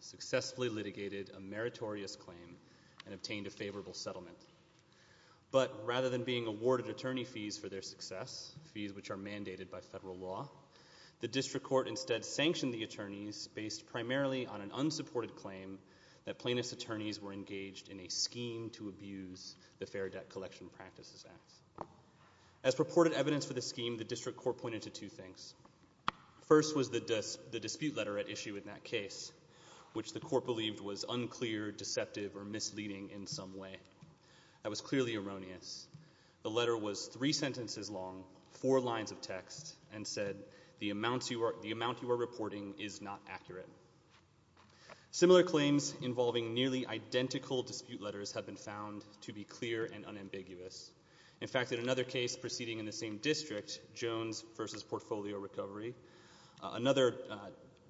successfully litigated a meritorious claim mandated by federal law, the district court that plaintiffs' attorneys were engaged in a scheme to abuse the Fair Debt Collection Practices Act. As purported evidence for this scheme, the district court pointed to two things. First was the dispute letter at issue in that case, which the court believed was unclear, deceptive, or misleading in some way. That was clearly erroneous. The letter was three sentences long, four lines of text, and said the amount you are reporting is not accurate. Similar claims involving nearly identical dispute letters have been found to be clear and unambiguous. In fact, in another case proceeding in the same district, Jones v. Portfolio Recovery, another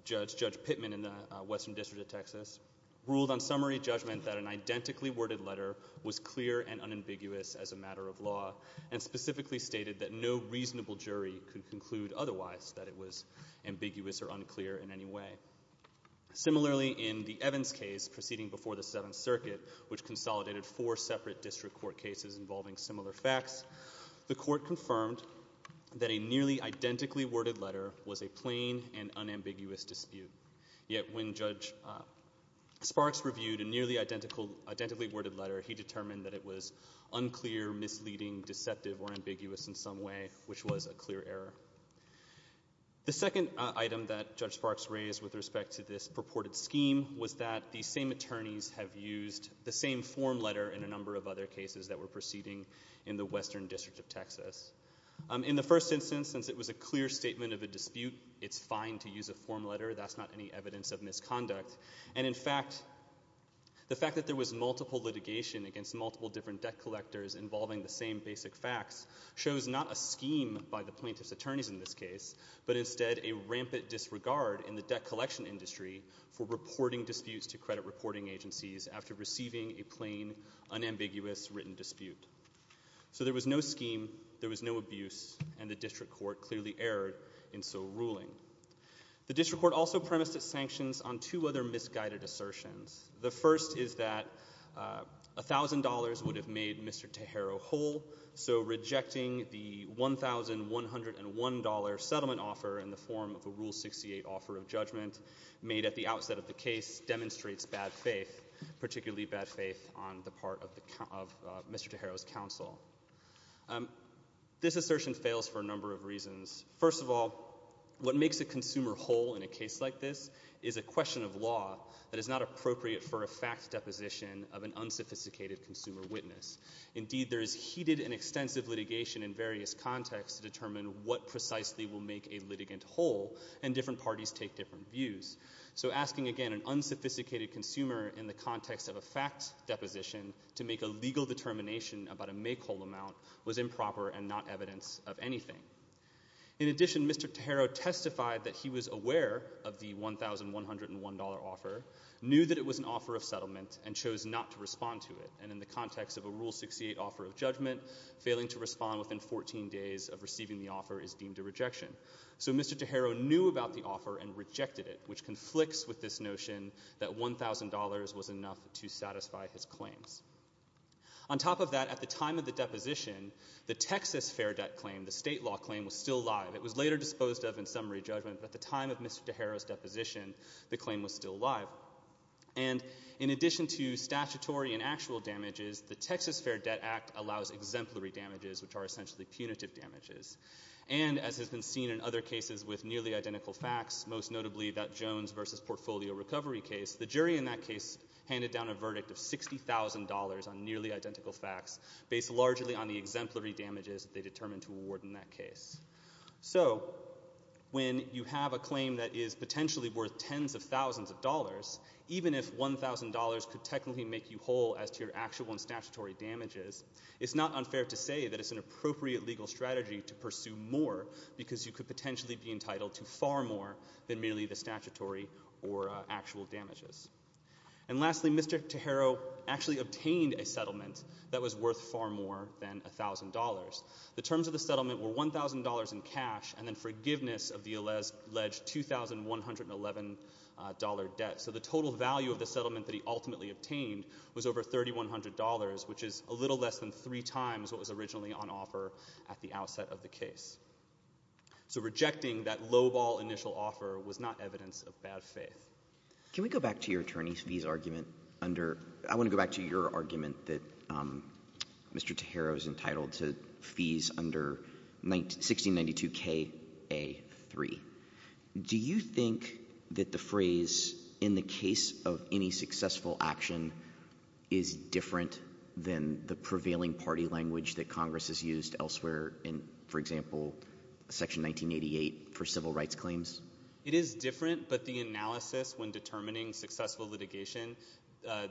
judge, Judge Pittman in the Western District of Texas, ruled on summary judgment that an identically worded letter was clear and unambiguous as a matter of law, and specifically stated that no reasonable jury could conclude otherwise that it was Similarly, in the Evans case proceeding before the Seventh Circuit, which consolidated four separate district court cases involving similar facts, the court confirmed that a nearly identically worded letter was a plain and unambiguous dispute. Yet when Judge Sparks reviewed a nearly identically worded letter, he determined that it was unclear, misleading, deceptive, or ambiguous in some way, which was a clear error. The second item that Judge Sparks raised with respect to this purported scheme was that these same attorneys have used the same form letter in a number of other cases that were proceeding in the Western District of Texas. In the first instance, since it was a clear statement of a dispute, it's fine to use a form letter. That's not any evidence of misconduct. And in fact, the fact that there was multiple litigation against multiple different debt collectors involving the same basic facts shows not a scheme by the attorneys in this case, but instead a rampant disregard in the debt collection industry for reporting disputes to credit reporting agencies after receiving a plain, unambiguous written dispute. So there was no scheme, there was no abuse, and the district court clearly erred in so ruling. The district court also premised its sanctions on two other misguided assertions. The first is that $1,000 would have made Mr. Tejero whole, so a $1 settlement offer in the form of a Rule 68 offer of judgment made at the outset of the case demonstrates bad faith, particularly bad faith on the part of Mr. Tejero's counsel. This assertion fails for a number of reasons. First of all, what makes a consumer whole in a case like this is a question of law that is not appropriate for a fact deposition of an unsophisticated consumer witness. Indeed, there is heated and extensive litigation in this case that precisely will make a litigant whole, and different parties take different views. So asking, again, an unsophisticated consumer in the context of a fact deposition to make a legal determination about a make-whole amount was improper and not evidence of anything. In addition, Mr. Tejero testified that he was aware of the $1,101 offer, knew that it was an offer of settlement, and chose not to respond to it. And in the context of a So Mr. Tejero knew about the offer and rejected it, which conflicts with this notion that $1,000 was enough to satisfy his claims. On top of that, at the time of the deposition, the Texas Fair Debt claim, the state law claim, was still alive. It was later disposed of in summary judgment, but at the time of Mr. Tejero's deposition, the claim was still alive. And in addition to statutory and actual damages, the Texas Fair Debt Act allows exemplary damages, which are essentially punitive damages. And, as has been seen in other cases with nearly identical facts, most notably that Jones v. Portfolio Recovery case, the jury in that case handed down a verdict of $60,000 on nearly identical facts, based largely on the exemplary damages that they determined to award in that case. So, when you have a claim that is potentially worth tens of thousands of dollars, even if $1,000 could technically make you whole as to your actual and statutory damages, it's not unfair to say that it's an appropriate legal strategy to pursue more, because you could potentially be entitled to far more than merely the statutory or actual damages. And lastly, Mr. Tejero actually obtained a settlement that was worth far more than $1,000. The terms of the settlement were $1,000 in cash and then forgiveness of the alleged $2,111 debt. So the total value of the settlement that he ultimately obtained was over $3,100, which is a little less than three times what was originally on offer at the outset of the case. So rejecting that lowball initial offer was not evidence of bad faith. Can we go back to your attorney's fees argument under — I want to go back to your argument that Mr. Tejero is entitled to fees under 1692Ka3. Do you think that the phrase, in the case of any successful action, is different than the prevailing party language that Congress has used elsewhere in, for example, Section 1988 for civil rights claims? It is different, but the analysis when determining successful litigation,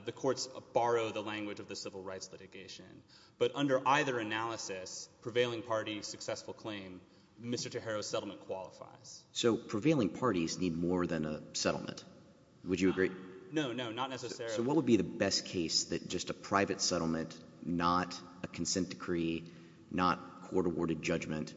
the courts borrow the language of the civil rights litigation. But under either analysis, prevailing party successful claim, Mr. Tejero's settlement qualifies. So prevailing parties need more than a settlement. Would you agree? No, no, not necessarily. So what would be the best case that just a private settlement, not a consent decree, not court-awarded judgment,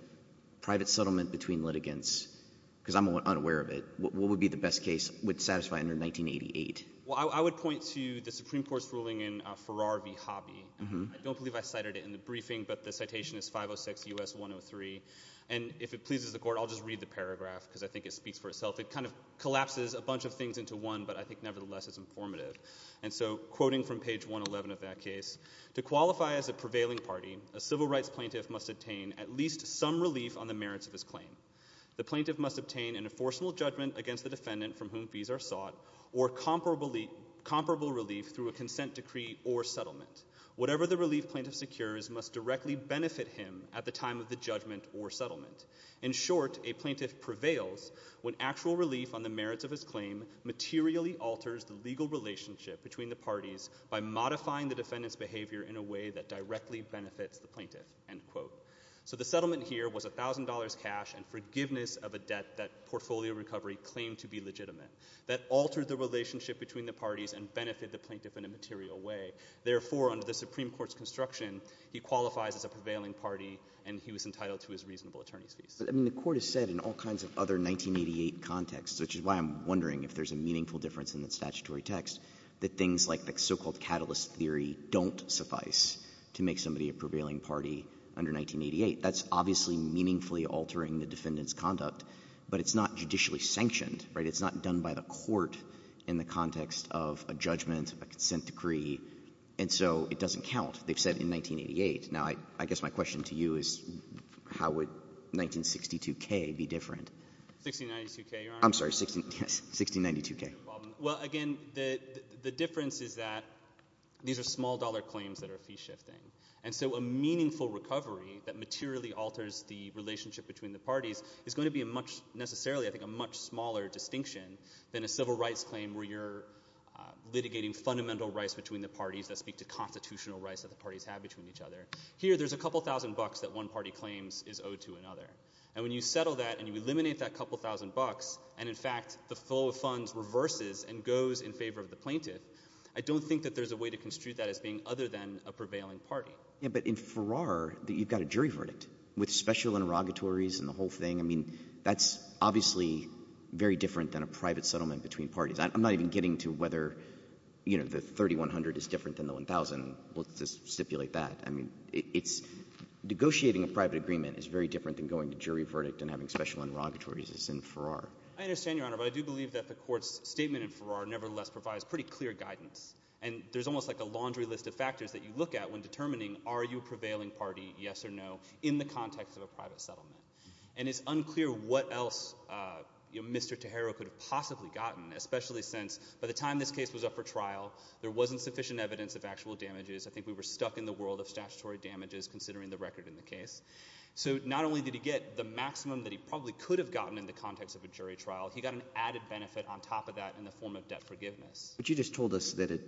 private settlement between litigants — because I'm unaware of it — what would be the best case that would satisfy under 1988? Well, I would point to the Supreme Court's ruling in Farrar v. Hobby. I don't believe I cited it in the briefing, but the citation is 506 U.S. 103. And if it pleases the court, I'll just read the paragraph because I think it speaks for itself. It kind of collapses a bunch of things into one, but I think nevertheless it's informative. And so quoting from page 111 of that case, to qualify as a prevailing party, a civil rights plaintiff must obtain at least some relief on the merits of his claim. The plaintiff must obtain an enforceable judgment against the defendant from whom fees are sought or comparable relief through a consent decree or settlement. Whatever the relief plaintiff secures must directly benefit him at the time of the judgment or settlement. In short, a plaintiff prevails when actual relief on the merits of his claim materially alters the legal relationship between the parties by modifying the defendant's behavior in a way that directly benefits the plaintiff." So the settlement here was $1,000 cash and forgiveness of a debt that Portfolio Recovery claimed to be legitimate that altered the relationship between the parties and benefited the plaintiff in a material way. Therefore, under the Supreme Court's construction, he qualifies as a prevailing party and he was entitled to his reasonable attorney's fees. I mean, the Court has said in all kinds of other 1988 contexts, which is why I'm wondering if there's a meaningful difference in the statutory text, that things like the so-called catalyst theory don't suffice to make somebody a prevailing party under 1988. That's not judicially sanctioned, right? It's not done by the court in the context of a judgment, a consent decree, and so it doesn't count. They've said in 1988. Now, I guess my question to you is, how would 1962K be different? 1692K, Your Honor? I'm sorry. Yes. 1692K. Well, again, the difference is that these are small-dollar claims that are fee-shifting. And so a meaningful recovery that materially alters the relationship between the parties is going to be a much — necessarily, I think, a much smaller distinction than a civil rights claim where you're litigating fundamental rights between the parties that speak to constitutional rights that the parties have between each other. Here, there's a couple thousand bucks that one party claims is owed to another. And when you settle that and you eliminate that couple thousand bucks and, in fact, the flow of funds reverses and goes in favor of the plaintiff, I don't think that there's a way to construe that as being other than a prevailing party. Yeah, but in Farrar, you've got a jury verdict with special interrogatories and the whole thing. I mean, that's obviously very different than a private settlement between parties. I'm not even getting to whether, you know, the 3,100 is different than the 1,000. We'll just stipulate that. I mean, it's — negotiating a private agreement is very different than going to jury verdict and having special interrogatories as in Farrar. I understand, Your Honor, but I do believe that the Court's statement in Farrar nevertheless provides pretty clear guidance. And there's almost like a laundry list of factors that you look at when determining are you a prevailing party, yes or no, in the context of a private settlement. And it's unclear what else Mr. Tejero could have possibly gotten, especially since by the time this case was up for trial, there wasn't sufficient evidence of actual damages. I think we were stuck in the world of statutory damages considering the record in the case. So not only did he get the maximum that he probably could have gotten in the context of a jury trial, he got an added benefit on top of that in the form of debt forgiveness. But you just told us that an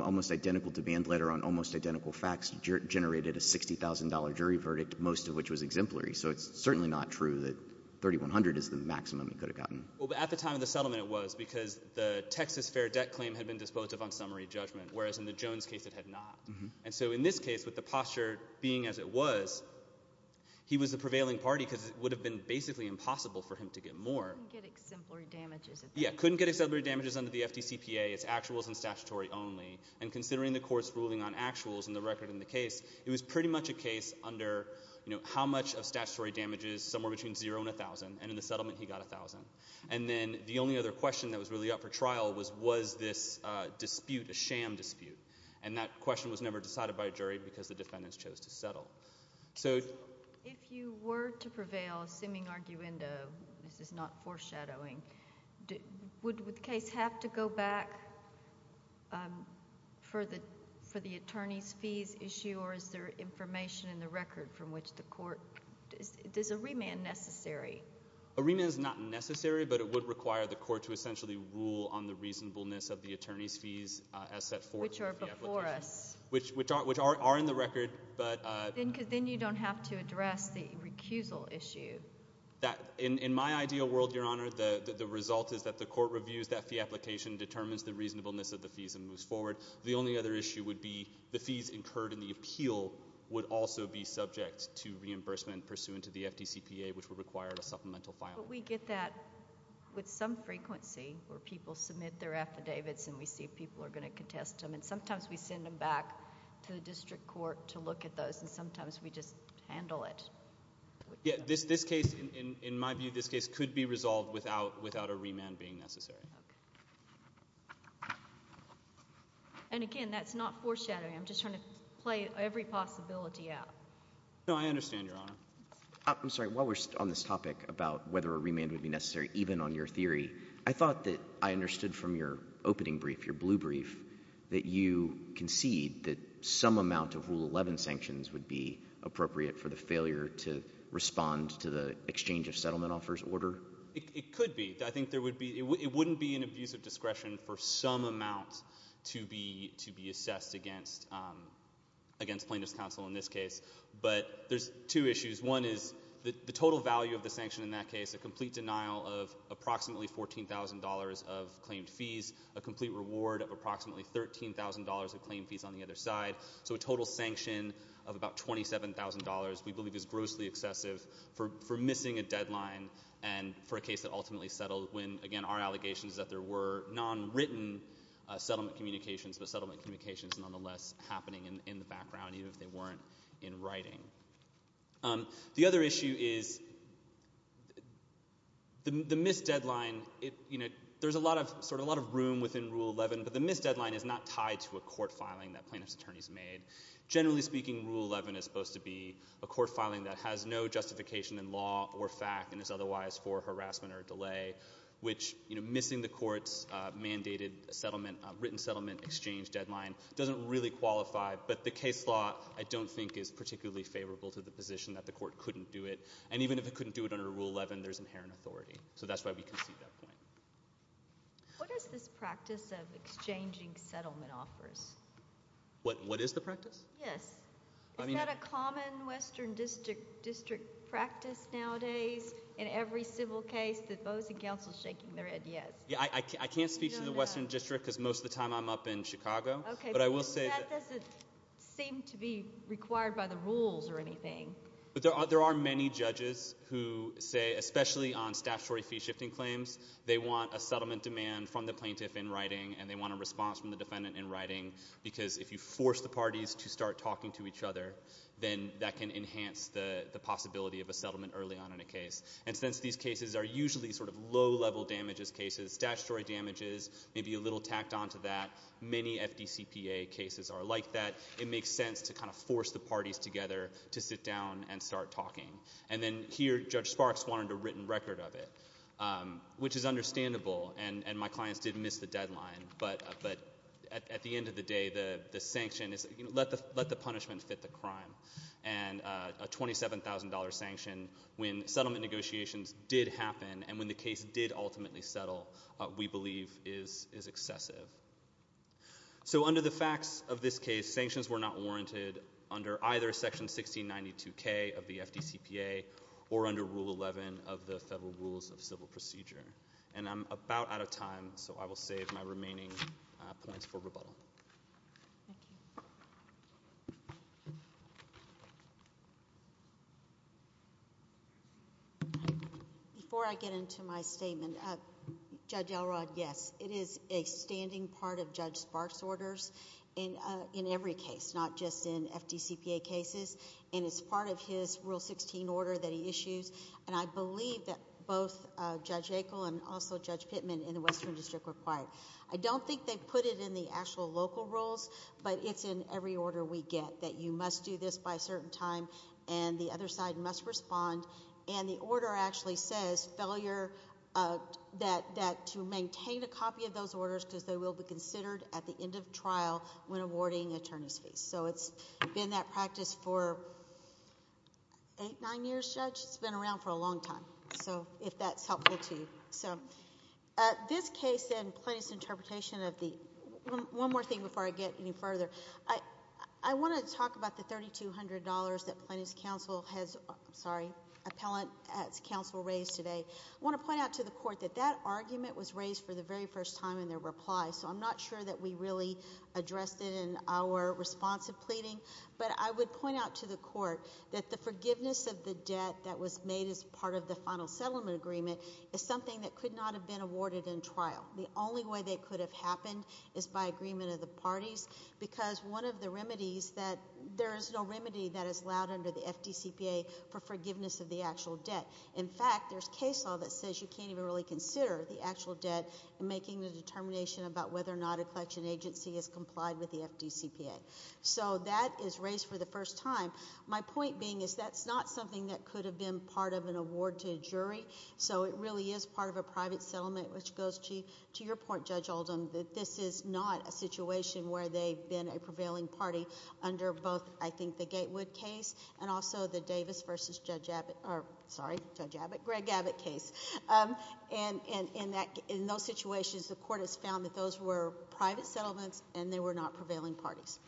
almost identical demand letter on almost identical facts generated a $60,000 jury verdict, most of which was exemplary. So it's certainly not true that 3,100 is the maximum he could have gotten. Well, at the time of the settlement it was because the Texas fair debt claim had been dispositive on summary judgment, whereas in the Jones case it had not. And so in this case, with the posture being as it was, he was the prevailing party because it would have been basically impossible for him to get more. He couldn't get exemplary damages. Yeah, couldn't get exemplary damages under the FDCPA. It's actuals and statutory only. And considering the court's ruling on actuals and the record in the case, it was pretty much a case under how much of statutory damage is somewhere between 0 and 1,000. And in the settlement he got 1,000. And then the only other question that was really up for trial was, was this dispute a sham dispute? And that question was never decided by a jury because the defendants chose to settle. So if you were to prevail, assuming arguendo, this is not foreshadowing, would the case have to go back for the attorney's fees issue or is there information in the record from which the court, is a remand necessary? A remand is not necessary, but it would require the court to essentially rule on the reasonableness of the attorney's fees as set forth in the application. Which are before us. Which are in the record. Then you don't have to address the recusal issue. In my ideal world, Your Honor, the result is that the court reviews that fee application, determines the reasonableness of the fees and moves forward. The only other issue would be the fees incurred in the appeal would also be subject to reimbursement pursuant to the FDCPA, which would require a supplemental filing. But we get that with some frequency, where people submit their affidavits and we see people are going to contest them. And sometimes we send them back to the district court to look at those and sometimes we just handle it. This case, in my view, this case could be resolved without a remand being necessary. And again, that's not foreshadowing. I'm just trying to play every possibility out. No, I understand, Your Honor. I'm sorry, while we're on this topic about whether a remand would be necessary, even on your theory, I thought that I understood from your opening brief, your blue brief, that you concede that some amount of Rule 11 sanctions would be necessary to respond to the exchange of settlement offers order? It could be. I think there would be, it wouldn't be an abuse of discretion for some amount to be assessed against plaintiff's counsel in this case. But there's two issues. One is the total value of the sanction in that case, a complete denial of approximately $14,000 of claimed fees, a complete reward of approximately $13,000 of claimed fees on the other side. So a total sanction of about $27,000 we believe is grossly excessive for missing a deadline and for a case that ultimately settled when, again, our allegation is that there were nonwritten settlement communications, but settlement communications nonetheless happening in the background, even if they weren't in writing. The other issue is the missed deadline. There's a lot of room within Rule 11, but the missed deadline is not tied to a claim that has been made. Generally speaking, Rule 11 is supposed to be a court filing that has no justification in law or fact and is otherwise for harassment or delay, which missing the court's mandated settlement, written settlement exchange deadline doesn't really qualify. But the case law, I don't think, is particularly favorable to the position that the court couldn't do it. And even if it couldn't do it under Rule 11, there's inherent authority. So that's why we concede that point. What does this practice of exchanging settlement offers? What is the practice? Yes. Is that a common Western District practice nowadays in every civil case, that those in counsel shaking their head yes? I can't speak to the Western District because most of the time I'm up in Chicago. Okay. That doesn't seem to be required by the rules or anything. There are many judges who say, especially on statutory fee-shifting claims, they want a settlement demand from the plaintiff in writing and they want a settlement demand because if you force the parties to start talking to each other, then that can enhance the possibility of a settlement early on in a case. And since these cases are usually sort of low-level damages cases, statutory damages, maybe a little tacked onto that, many FDCPA cases are like that, it makes sense to kind of force the parties together to sit down and start talking. And then here Judge Sparks wanted a written record of it, which is let the punishment fit the crime. And a $27,000 sanction when settlement negotiations did happen and when the case did ultimately settle, we believe is excessive. So under the facts of this case, sanctions were not warranted under either Section 1692K of the FDCPA or under Rule 11 of the Federal Rules of Civil Procedure. And I'm about out of time, so I will save my remaining points for later. Thank you. Before I get into my statement, Judge Elrod, yes, it is a standing part of Judge Sparks' orders in every case, not just in FDCPA cases, and it's part of his Rule 16 order that he issues. And I believe that both Judge Akel and also Judge Pittman in the Western District required. I don't think they put it in the actual local rules, but it's in every order we get, that you must do this by a certain time and the other side must respond. And the order actually says to maintain a copy of those orders because they will be considered at the end of trial when awarding attorneys' fees. So it's been that practice for eight, nine years, Judge? It's been around for a long time, if that's helpful to you. This case and Plaintiff's interpretation of the — one more thing before I get any further. I want to talk about the $3,200 that Plaintiff's counsel has — sorry, appellant's counsel raised today. I want to point out to the Court that that argument was raised for the very first time in their reply, so I'm not sure that we really addressed it in our response to pleading. But I would point out to the Court that the forgiveness of the debt that is something that could not have been awarded in trial. The only way that it could have happened is by agreement of the parties because one of the remedies that — there is no remedy that is allowed under the FDCPA for forgiveness of the actual debt. In fact, there's case law that says you can't even really consider the actual debt in making the determination about whether or not a collection agency has complied with the FDCPA. So that is raised for the first time. My point being is that's not something that could have been part of an agreement with the jury, so it really is part of a private settlement, which goes to your point, Judge Oldham, that this is not a situation where they've been a prevailing party under both, I think, the Gatewood case and also the Davis versus Judge Abbott — or, sorry, Judge Abbott, Greg Abbott case. And in those situations, the Court has found that those were private settlements and they were not prevailing parties.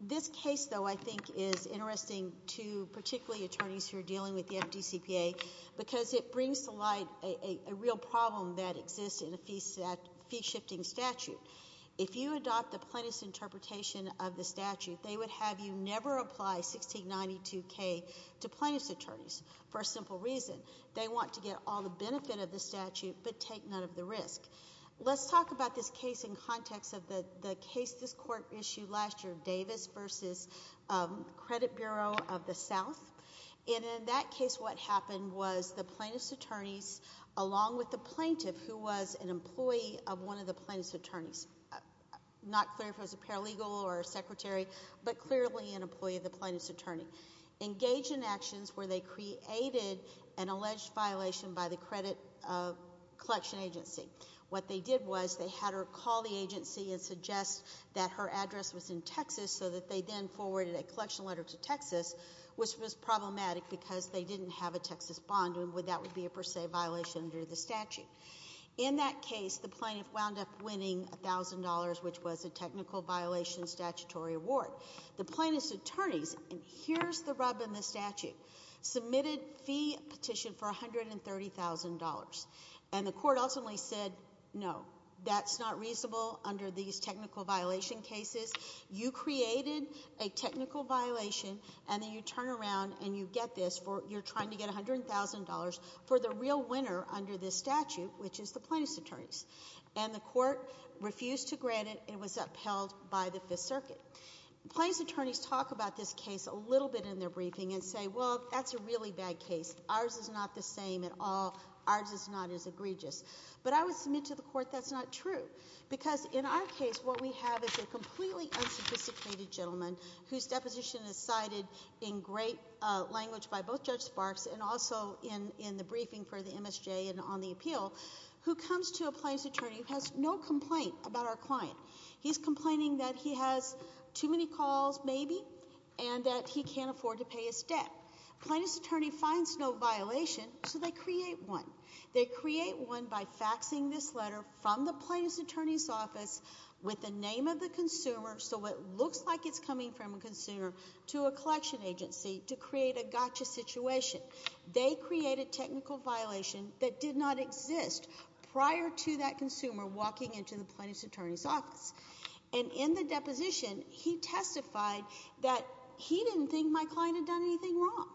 This case, though, I think is interesting to particularly attorneys who are dealing with the FDCPA because it brings to light a real problem that exists in a fee-shifting statute. If you adopt the plaintiff's interpretation of the statute, they would have you never apply 1692K to plaintiff's attorneys for a simple reason. They want to get all the benefit of the statute but take none of the risk. Let's talk about this case in context of the case this Court issued last year, Davis versus Credit Bureau of the South. And in that case, what happened was the plaintiff's attorneys, along with the plaintiff, who was an employee of one of the plaintiff's attorneys — not clear if it was a paralegal or a secretary, but clearly an employee of the plaintiff's attorney — engaged in actions where they created an alleged violation by the credit collection agency. What they did was they had her call the agency and suggest that her address was in Texas so that they then forwarded a collection letter to Texas, which was problematic because they didn't have a Texas bond and that would be a per se violation under the statute. In that case, the plaintiff wound up winning $1,000, which was a technical violation statutory award. The plaintiff's attorneys — and here's the rub in the statute — submitted fee petition for $130,000. And the Court ultimately said, no, that's not reasonable under these technical violation cases. You created a technical violation and then you turn around and you get this for — you're trying to get $100,000 for the real winner under this statute, which is the plaintiff's attorneys. And the Court refused to grant it. It was upheld by the Fifth Circuit. Plaintiff's attorneys talk about this case a little bit in their briefing and say, well, that's a really bad case. Ours is not the same at all. Ours is not as egregious. But I would submit to the Court that's not true. Because in our case, what we have is a completely unsophisticated gentleman whose deposition is cited in great language by both Judge Sparks and also in the briefing for the MSJ and on the appeal, who comes to a plaintiff's attorney who has no complaint about our client. He's complaining that he has too many calls, maybe, and that he can't afford to pay his debt. Plaintiff's attorney finds no violation, so they create one. They create one by faxing this letter from the plaintiff's attorney's office with the name of the consumer so it looks like it's coming from a consumer to a collection agency to create a gotcha situation. They create a technical violation that did not exist prior to that consumer walking into the plaintiff's attorney's office. And in the deposition, he testified that he didn't think my client had done anything wrong.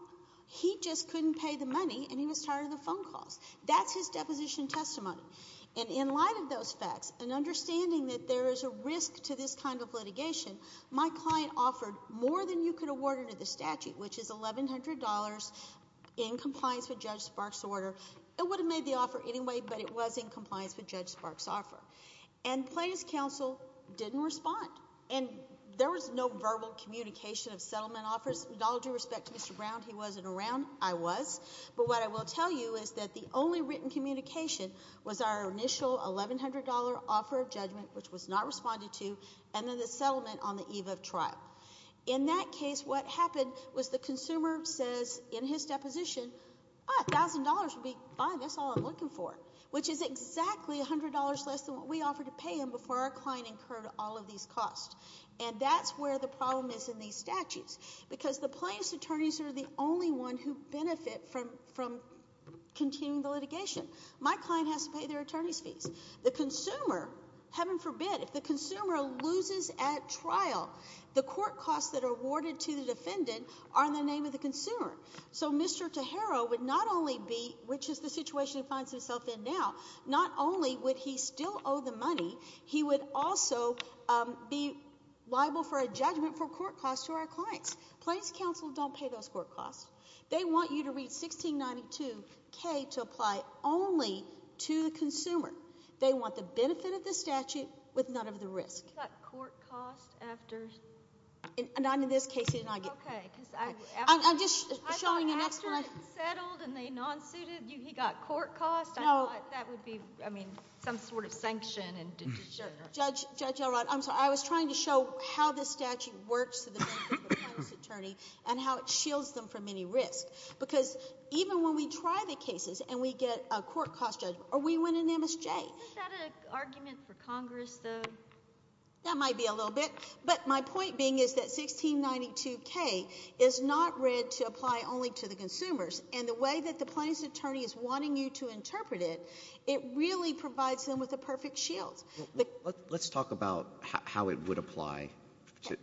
He just couldn't pay the money and he was tired of the phone calls. That's his deposition testimony. And in light of those facts and understanding that there is a risk to this kind of litigation, my client offered more than you could award under the statute, which is $1,100 in compliance with Judge Sparks' order. It would have made the offer anyway, but it was in compliance with Judge Sparks' offer. And plaintiff's counsel didn't respond. And there was no verbal communication of settlement offers. With all due respect to Mr. Brown, he wasn't around. I was. But what I will tell you is that the only written communication was our initial $1,100 offer of judgment, which was not responded to, and then the settlement on the eve of trial. In that case, what happened was the consumer says in his deposition, $1,000 would be fine. That's all I'm looking for, which is exactly $100 less than what we offered to pay him before our client incurred all of these costs. And that's where the problem is in these statutes. Because the plaintiff's attorneys are the only one who benefit from continuing the litigation. My client has to pay their attorney's fees. The consumer, heaven forbid, if the consumer loses at trial, the court costs that are awarded to the defendant are in the name of the consumer. So Mr. Tejero would not only be, which is the situation he finds himself in now, not only would he still owe the money, he would also be liable for a judgment for court costs to our clients. Plaintiff's counsel don't pay those court costs. They want you to read 1692K to apply only to the consumer. They want the benefit of the statute with none of the risk. He got court costs after... Not in this case. Okay. I'm just showing you... I thought after it settled and they non-suited, he got court costs? No. I thought that would be, I mean, some sort of sanction. Judge Elrod, I'm sorry. I was trying to show how the statute works to the benefit of the plaintiff's attorney and how it shields them from any risk. Because even when we try the cases and we get a court cost judgment or we win an MSJ... Isn't that an argument for Congress, though? That might be a little bit. But my point being is that 1692K is not read to apply only to the consumers. And the way that the plaintiff's attorney is wanting you to Let's talk about how it would apply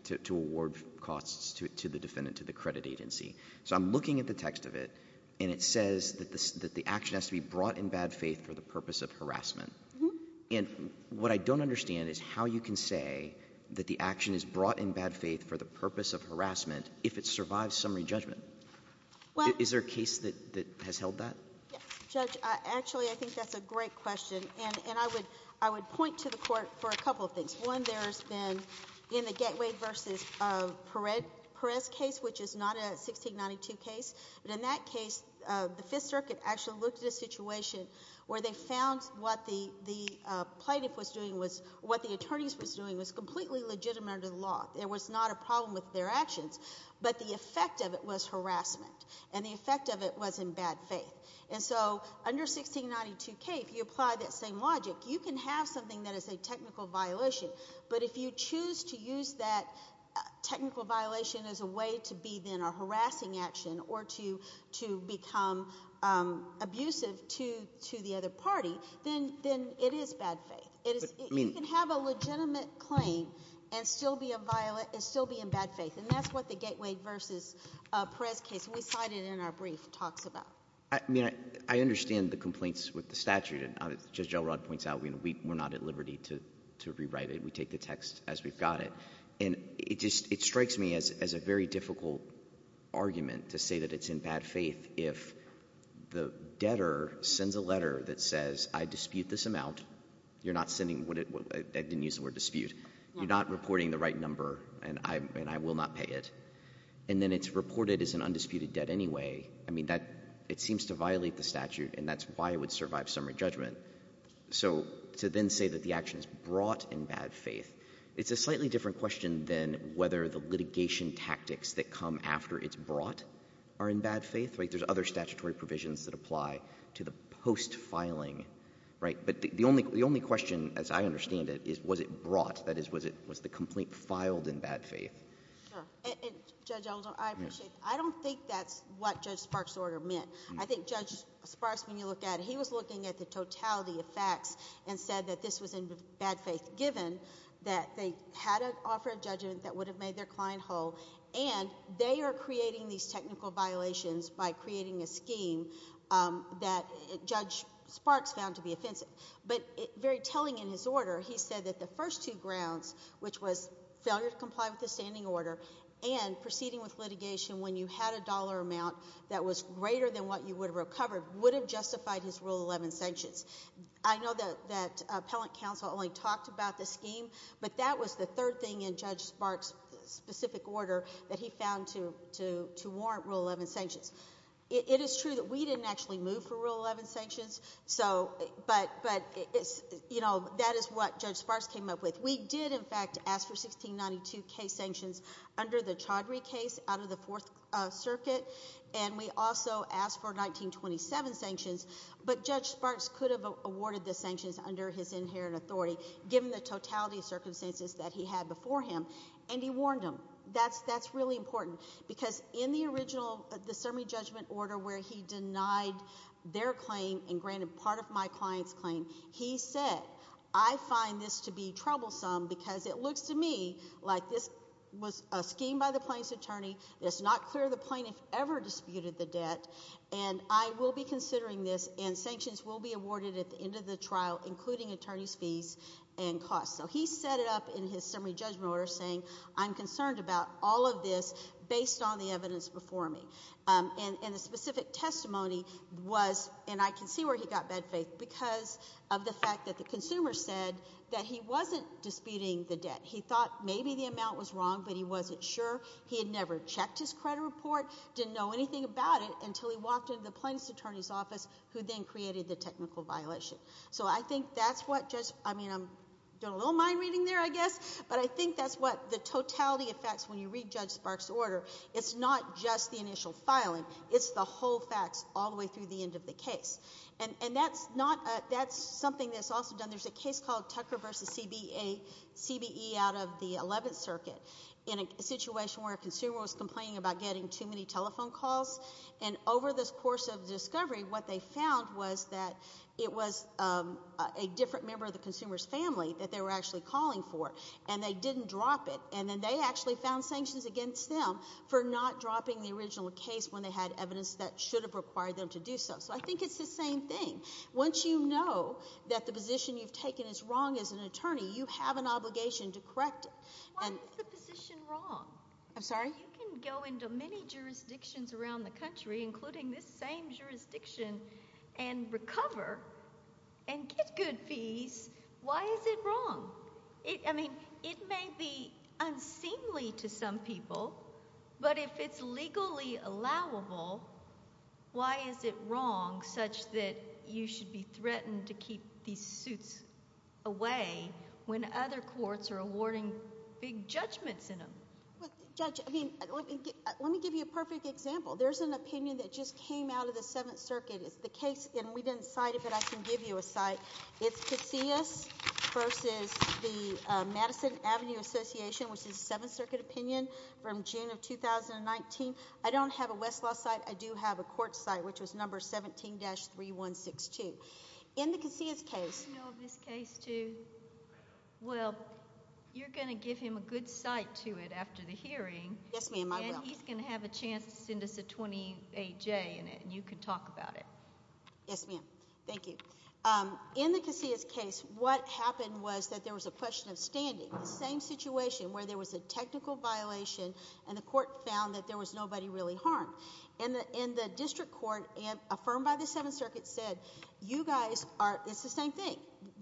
to award costs to the defendant, to the credit agency. So I'm looking at the text of it, and it says that the action has to be brought in bad faith for the purpose of harassment. And what I don't understand is how you can say that the action is brought in bad faith for the purpose of harassment if it survives summary judgment. Is there a case that has held that? Judge, actually, I think that's a great question. And I would point to the court for a couple of things. One, there has been, in the Gettwade v. Perez case, which is not a 1692 case, but in that case, the Fifth Circuit actually looked at a situation where they found what the plaintiff was doing was... what the attorneys was doing was completely legitimate under the law. There was not a problem with their actions. But the effect of it was harassment. And the effect of it was in bad faith. And so under 1692K, if you apply that same logic, you can have something that is a technical violation. But if you choose to use that technical violation as a way to be then a harassing action or to become abusive to the other party, then it is bad faith. You can have a legitimate claim and still be in bad faith. And that's what the Gettwade v. Perez case, which we cited in our brief, talks about. I mean, I understand the complaints with the statute. As Judge Elrod points out, we're not at liberty to rewrite it. We take the text as we've got it. And it strikes me as a very difficult argument to say that it's in bad faith if the debtor sends a letter that says, I dispute this amount. You're not sending what it... I didn't use the word dispute. You're not reporting the right number, and I will not pay it. And then it's reported as an undisputed debt anyway. I mean, it seems to violate the statute, and that's why it would survive summary judgment. So to then say that the action is brought in bad faith, it's a slightly different question than whether the litigation tactics that come after it's brought are in bad faith, right? There's other statutory provisions that apply to the post-filing, right? But the only question, as I understand it, is was it brought? That is, was the complaint filed in bad faith? Sure. And, Judge Alder, I appreciate that. I don't think that's what Judge Sparks' order meant. I think Judge Sparks, when you look at it, he was looking at the totality of facts and said that this was in bad faith, given that they had to offer a judgment that would have made their client whole, and they are creating these technical violations by creating a scheme that Judge Sparks found to be offensive. But very telling in his order, he said that the first two grounds, which was failure to comply with the standing order and proceeding with litigation when you had a dollar amount that was greater than what you would have recovered, would have justified his Rule 11 sanctions. I know that Appellant Counsel only talked about the scheme, but that was the third thing in Judge Sparks' specific order that he found to warrant Rule 11 sanctions. It is true that we didn't actually move for Rule 11 sanctions, but that is what Judge Sparks came up with. We did, in fact, ask for 1692 case sanctions under the Chaudhry case out of the Fourth Circuit, and we also asked for 1927 sanctions, but Judge Sparks could have awarded the sanctions under his inherent authority, given the totality of circumstances that he had before him, and he warned them. That's really important, because in the original, the summary judgment order where he denied their claim and granted part of my client's claim, he said, I find this to be troublesome because it looks to me like this was a scheme by the plaintiff's attorney, it's not clear the plaintiff ever disputed the debt, and I will be considering this, and sanctions will be awarded at the end of the trial, including attorney's fees and costs. So he set it up in his summary judgment order, saying I'm concerned about all of this based on the evidence before me. And the specific testimony was, and I can see where he got bad faith, because of the fact that the consumer said that he wasn't disputing the debt. He thought maybe the amount was wrong, but he wasn't sure. He had never checked his credit report, didn't know anything about it until he walked into the plaintiff's attorney's office, who then created the technical violation. So I think that's what Judge – I mean, I'm doing a little mind reading there, I guess, but I think that's what the totality of facts when you read Judge Sparks' order, it's not just the initial filing, it's the whole facts all the way through the end of the case. And that's not – that's something that's also done. There's a case called Tucker v. CBE out of the 11th Circuit in a situation where a consumer was complaining about getting too many telephone calls. And over this course of discovery, what they found was that it was a different member of the consumer's family that they were actually calling for, and they didn't drop it. And then they actually found sanctions against them for not dropping the original case when they had evidence that should have required them to do so. So I think it's the same thing. Once you know that the position you've taken is wrong as an attorney, you have an obligation to correct it. Why is the position wrong? I'm sorry? You can go into many jurisdictions around the country, including this same jurisdiction, and recover and get good fees. Why is it wrong? I mean, it may be unseemly to some people, but if it's legally allowable, why is it wrong such that you should be threatened to keep these suits away when other courts are awarding big judgments in them? Judge, I mean, let me give you a perfect example. There's an opinion that just came out of the 7th Circuit. It's the case, and we didn't cite it, but I can give you a cite. It's Casillas versus the Madison Avenue Association, which is a 7th Circuit opinion from June of 2019. I don't have a Westlaw cite. I do have a court cite, which was number 17-3162. In the Casillas case— Do you know of this case, too? Well, you're going to give him a good cite to it after the hearing. Yes, ma'am, I will. And he's going to have a chance to send us a 28-J in it, and you can talk about it. Yes, ma'am. Thank you. In the Casillas case, what happened was that there was a question of standing, the same situation where there was a technical violation and the court found that there was nobody really harmed. And the district court, affirmed by the 7th Circuit, said, you guys are—it's the same thing.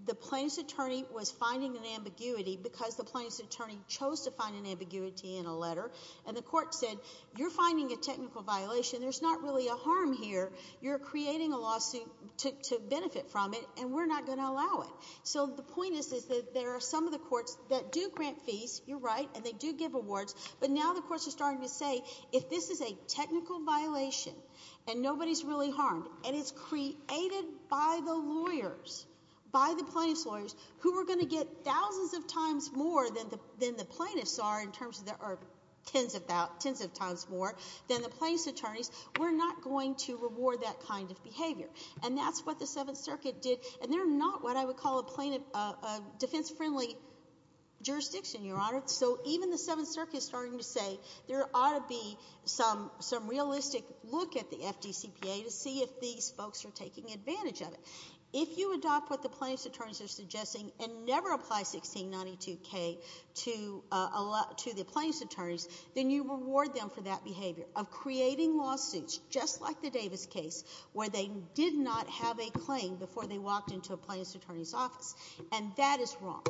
The plaintiff's attorney was finding an ambiguity because the plaintiff's attorney chose to find an ambiguity in a letter, and the court said, you're finding a technical violation. There's not really a harm here. You're creating a lawsuit to benefit from it, and we're not going to allow it. So the point is that there are some of the courts that do grant fees, you're right, and they do give awards, but now the courts are starting to say, if this is a technical violation and nobody's really harmed, and it's created by the lawyers, by the plaintiff's lawyers, who are going to get thousands of times more than the plaintiffs are in terms of tens of times more than the plaintiff's attorneys, we're not going to reward that kind of behavior. And that's what the 7th Circuit did, and they're not what I would call a defense-friendly jurisdiction, Your Honor. So even the 7th Circuit is starting to say there ought to be some realistic look at the FDCPA to see if these folks are taking advantage of it. If you adopt what the plaintiff's attorneys are suggesting and never apply 1692K to the plaintiff's attorneys, then you reward them for that behavior of creating lawsuits, just like the Davis case, where they did not have a claim before they walked into a plaintiff's attorney's office, and that is wrong.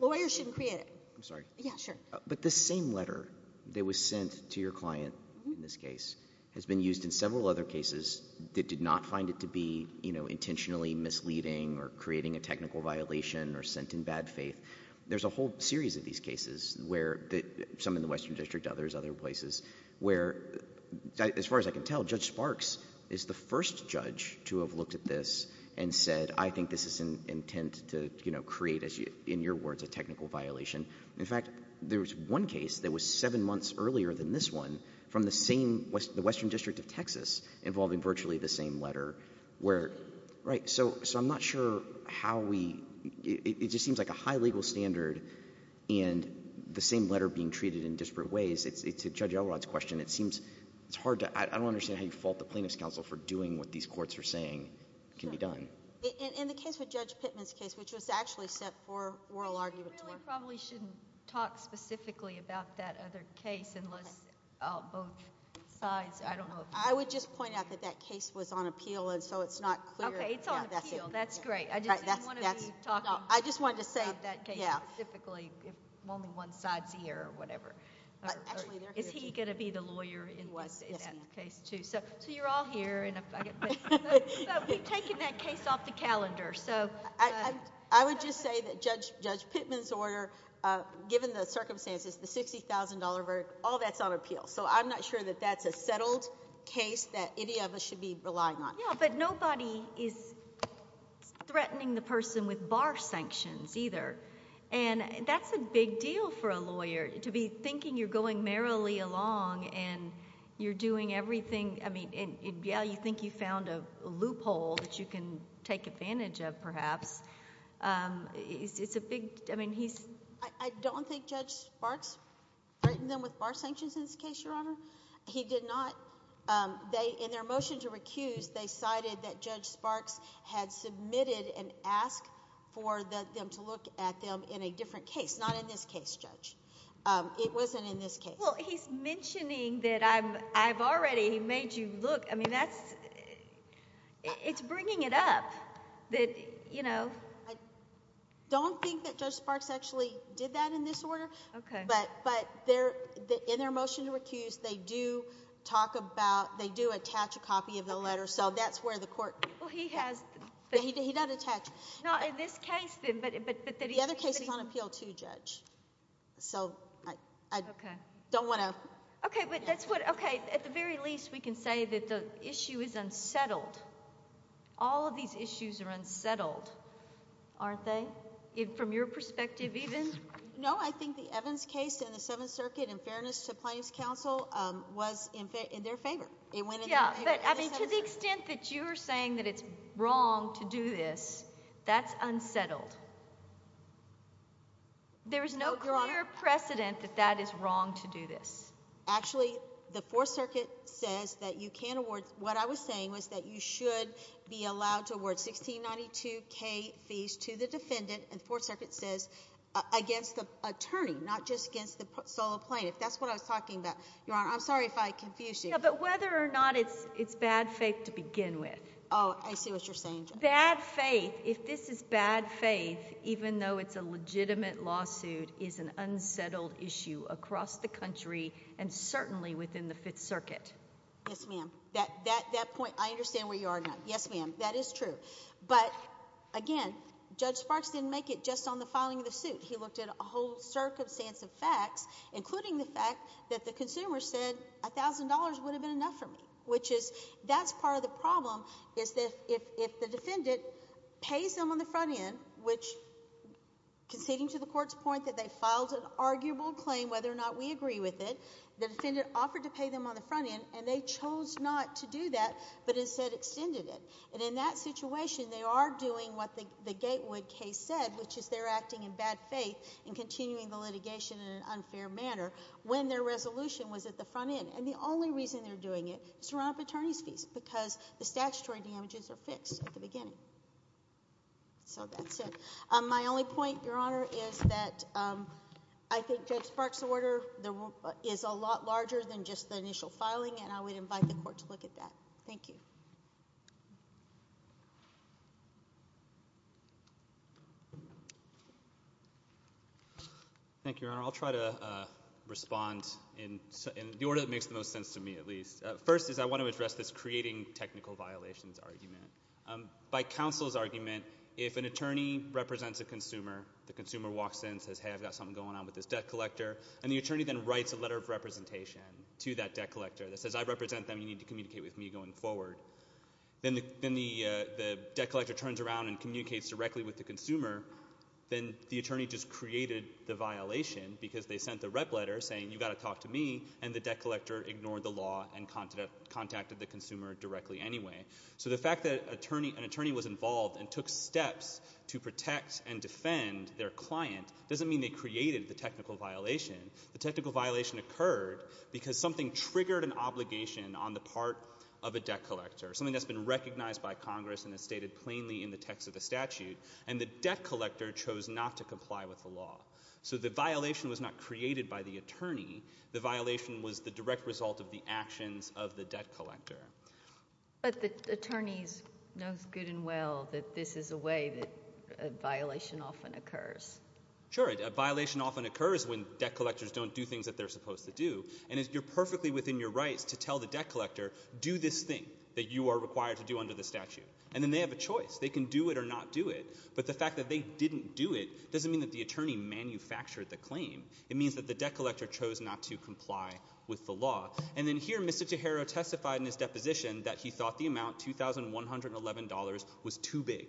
Lawyers shouldn't create it. I'm sorry. Yeah, sure. But the same letter that was sent to your client in this case has been used in several other cases that did not find it to be intentionally misleading or creating a technical violation or sent in bad faith. There's a whole series of these cases, some in the Western District, others other places, where, as far as I can tell, Judge Sparks is the first judge to have looked at this and said, I think this is an intent to create, in your words, a technical violation. In fact, there was one case that was seven months earlier than this one from the Western District of Texas involving virtually the same letter. So I'm not sure how we—it just seems like a high legal standard and the same letter being treated in disparate ways. To Judge Elrod's question, it seems it's hard to— I don't understand how you fault the plaintiff's counsel for doing what these courts are saying can be done. In the case with Judge Pittman's case, which was actually set for oral argument. We really probably shouldn't talk specifically about that other case unless both sides— I don't know if— I would just point out that that case was on appeal, and so it's not clear. Okay, it's on appeal. That's great. I just didn't want to be talking about that case specifically if only one side's here or whatever. Is he going to be the lawyer in that case too? So you're all here, but we've taken that case off the calendar. I would just say that Judge Pittman's order, given the circumstances, the $60,000 verdict, all that's on appeal. So I'm not sure that that's a settled case that any of us should be relying on. Yeah, but nobody is threatening the person with bar sanctions either, and that's a big deal for a lawyer to be thinking you're going merrily along and you're doing everything— I mean, yeah, you think you found a loophole that you can take advantage of perhaps. It's a big—I mean, he's— I don't think Judge Sparks threatened them with bar sanctions in this case, Your Honor. He did not. In their motion to recuse, they cited that Judge Sparks had submitted and asked for them to look at them in a different case, not in this case, Judge. It wasn't in this case. Well, he's mentioning that I've already made you look. I mean, that's—it's bringing it up that, you know— I don't think that Judge Sparks actually did that in this order. Okay. But in their motion to recuse, they do talk about—they do attach a copy of the letter. So that's where the court— Well, he has— He did not attach— Not in this case, then, but that he— The other case is on appeal too, Judge. So I don't want to— Okay. Okay, but that's what—okay, at the very least, we can say that the issue is unsettled. All of these issues are unsettled, aren't they, from your perspective even? No, I think the Evans case in the Seventh Circuit in fairness to plaintiff's counsel was in their favor. It went in their favor. Yeah, but to the extent that you're saying that it's wrong to do this, that's unsettled. There is no clear precedent that that is wrong to do this. Actually, the Fourth Circuit says that you can award—what I was saying was that you should be allowed to award $1692,000 fees to the defendant, and the Fourth Circuit says against the attorney, not just against the sole plaintiff. That's what I was talking about, Your Honor. I'm sorry if I confused you. Yeah, but whether or not it's bad faith to begin with. Oh, I see what you're saying, Judge. Bad faith, if this is bad faith, even though it's a legitimate lawsuit, is an unsettled issue across the country and certainly within the Fifth Circuit. Yes, ma'am. That point, I understand where you are now. Yes, ma'am. That is true. But, again, Judge Sparks didn't make it just on the filing of the suit. He looked at a whole circumstance of facts, including the fact that the consumer said $1,000 would have been enough for me, which is—that's part of the problem, is that if the defendant pays them on the front end, which—conceding to the Court's point that they filed an arguable claim, whether or not we agree with it, the defendant offered to pay them on the front end, and they chose not to do that but instead extended it. And in that situation, they are doing what the Gatewood case said, which is they're acting in bad faith and continuing the litigation in an unfair manner, when their resolution was at the front end. And the only reason they're doing it is to run up attorney's fees because the statutory damages are fixed at the beginning. So that's it. My only point, Your Honor, is that I think Judge Sparks' order is a lot larger than just the initial filing, and I would invite the Court to look at that. Thank you. Thank you, Your Honor. I'll try to respond in the order that makes the most sense to me, at least. First is I want to address this creating technical violations argument. By counsel's argument, if an attorney represents a consumer, the consumer walks in and says, hey, I've got something going on with this debt collector, and the attorney then writes a letter of representation to that debt collector that says, I represent them. You need to communicate with me going forward. Then the debt collector turns around and communicates directly with the consumer. Then the attorney just created the violation because they sent the rep letter saying, you've got to talk to me, and the debt collector ignored the law and contacted the consumer directly anyway. So the fact that an attorney was involved and took steps to protect and defend their client doesn't mean they created the technical violation. The technical violation occurred because something triggered an obligation on the part of a debt collector, something that's been recognized by Congress and is stated plainly in the text of the statute, and the debt collector chose not to comply with the law. So the violation was not created by the attorney. The violation was the direct result of the actions of the debt collector. But the attorneys know good and well that this is a way that a violation often occurs. Sure. A violation often occurs when debt collectors don't do things that they're supposed to do, and you're perfectly within your rights to tell the debt collector, do this thing that you are required to do under the statute. And then they have a choice. They can do it or not do it. But the fact that they didn't do it doesn't mean that the attorney manufactured the claim. It means that the debt collector chose not to comply with the law. And then here Mr. Tejero testified in his deposition that he thought the amount, $2,111, was too big.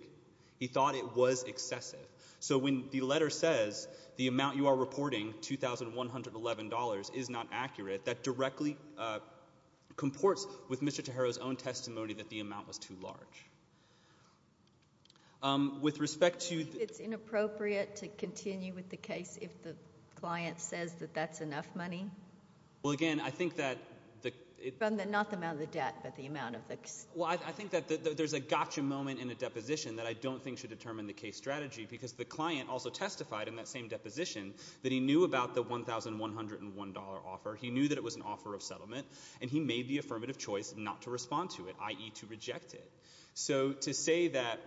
He thought it was excessive. So when the letter says the amount you are reporting, $2,111, is not accurate, that directly comports with Mr. Tejero's own testimony that the amount was too large. With respect to the- Do you think it's inappropriate to continue with the case if the client says that that's enough money? Well, again, I think that the- Not the amount of the debt, but the amount of the- Well, I think that there's a gotcha moment in the deposition that I don't think should determine the case strategy because the client also testified in that same deposition that he knew about the $1,101 offer. He knew that it was an offer of settlement, and he made the affirmative choice not to respond to it, i.e. to reject it. So to say that,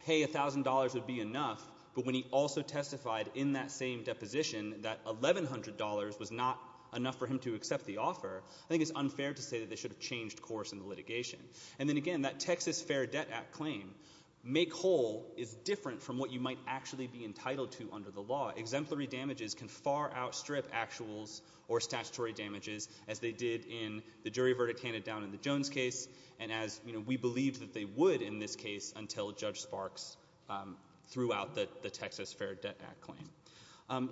hey, $1,000 would be enough, but when he also testified in that same deposition that $1,100 was not enough for him to accept the offer, I think it's unfair to say that they should have changed course in the litigation. And then, again, that Texas Fair Debt Act claim, make whole, is different from what you might actually be entitled to under the law. Exemplary damages can far outstrip actuals or statutory damages, as they did in the jury verdict handed down in the Jones case, and as we believe that they would in this case until Judge Sparks threw out the Texas Fair Debt Act claim.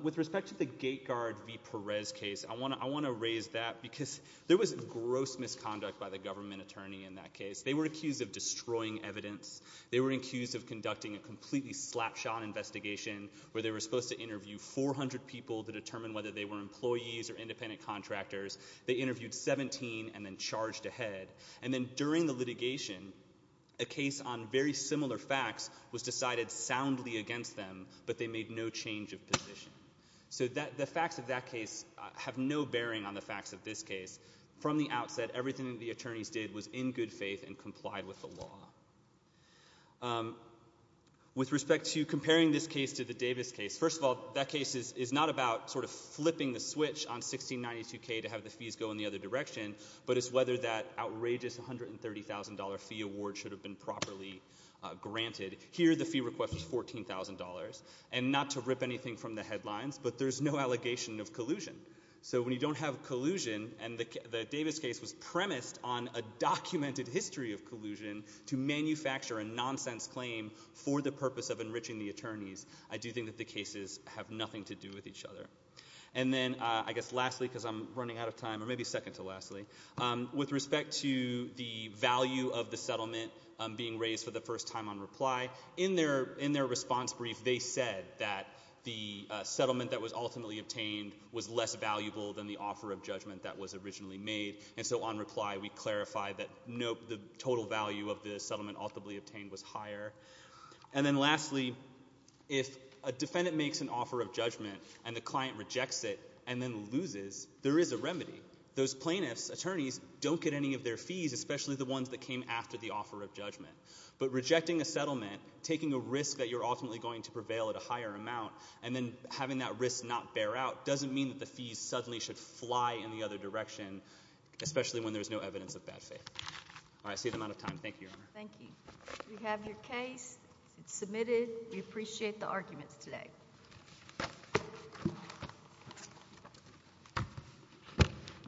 With respect to the Gate Guard v. Perez case, I want to raise that because there was gross misconduct by the government attorney in that case. They were accused of destroying evidence. They were accused of conducting a completely slapshot investigation where they were supposed to interview 400 people to determine whether they were employees or independent contractors. They interviewed 17 and then charged ahead. And then during the litigation, a case on very similar facts was decided soundly against them, but they made no change of position. So the facts of that case have no bearing on the facts of this case. From the outset, everything that the attorneys did was in good faith and complied with the law. With respect to comparing this case to the Davis case, first of all, that case is not about sort of flipping the switch on 1692K to have the fees go in the other direction, but it's whether that outrageous $130,000 fee award should have been properly granted. Here the fee request was $14,000. And not to rip anything from the headlines, but there's no allegation of collusion. So when you don't have collusion, and the Davis case was premised on a documented history of collusion to manufacture a nonsense claim for the purpose of enriching the attorneys, I do think that the cases have nothing to do with each other. And then I guess lastly, because I'm running out of time, or maybe second to lastly, with respect to the value of the settlement being raised for the first time on reply, in their response brief they said that the settlement that was ultimately obtained was less valuable than the offer of judgment that was originally made. And so on reply we clarified that the total value of the settlement ultimately obtained was higher. And then lastly, if a defendant makes an offer of judgment and the client rejects it and then loses, there is a remedy. Those plaintiffs, attorneys, don't get any of their fees, especially the ones that came after the offer of judgment. But rejecting a settlement, taking a risk that you're ultimately going to prevail at a higher amount, and then having that risk not bear out doesn't mean that the fees suddenly should fly in the other direction, especially when there's no evidence of bad faith. All right. I see I'm out of time. Thank you, Your Honor. Thank you. We have your case. It's submitted. We appreciate the arguments today.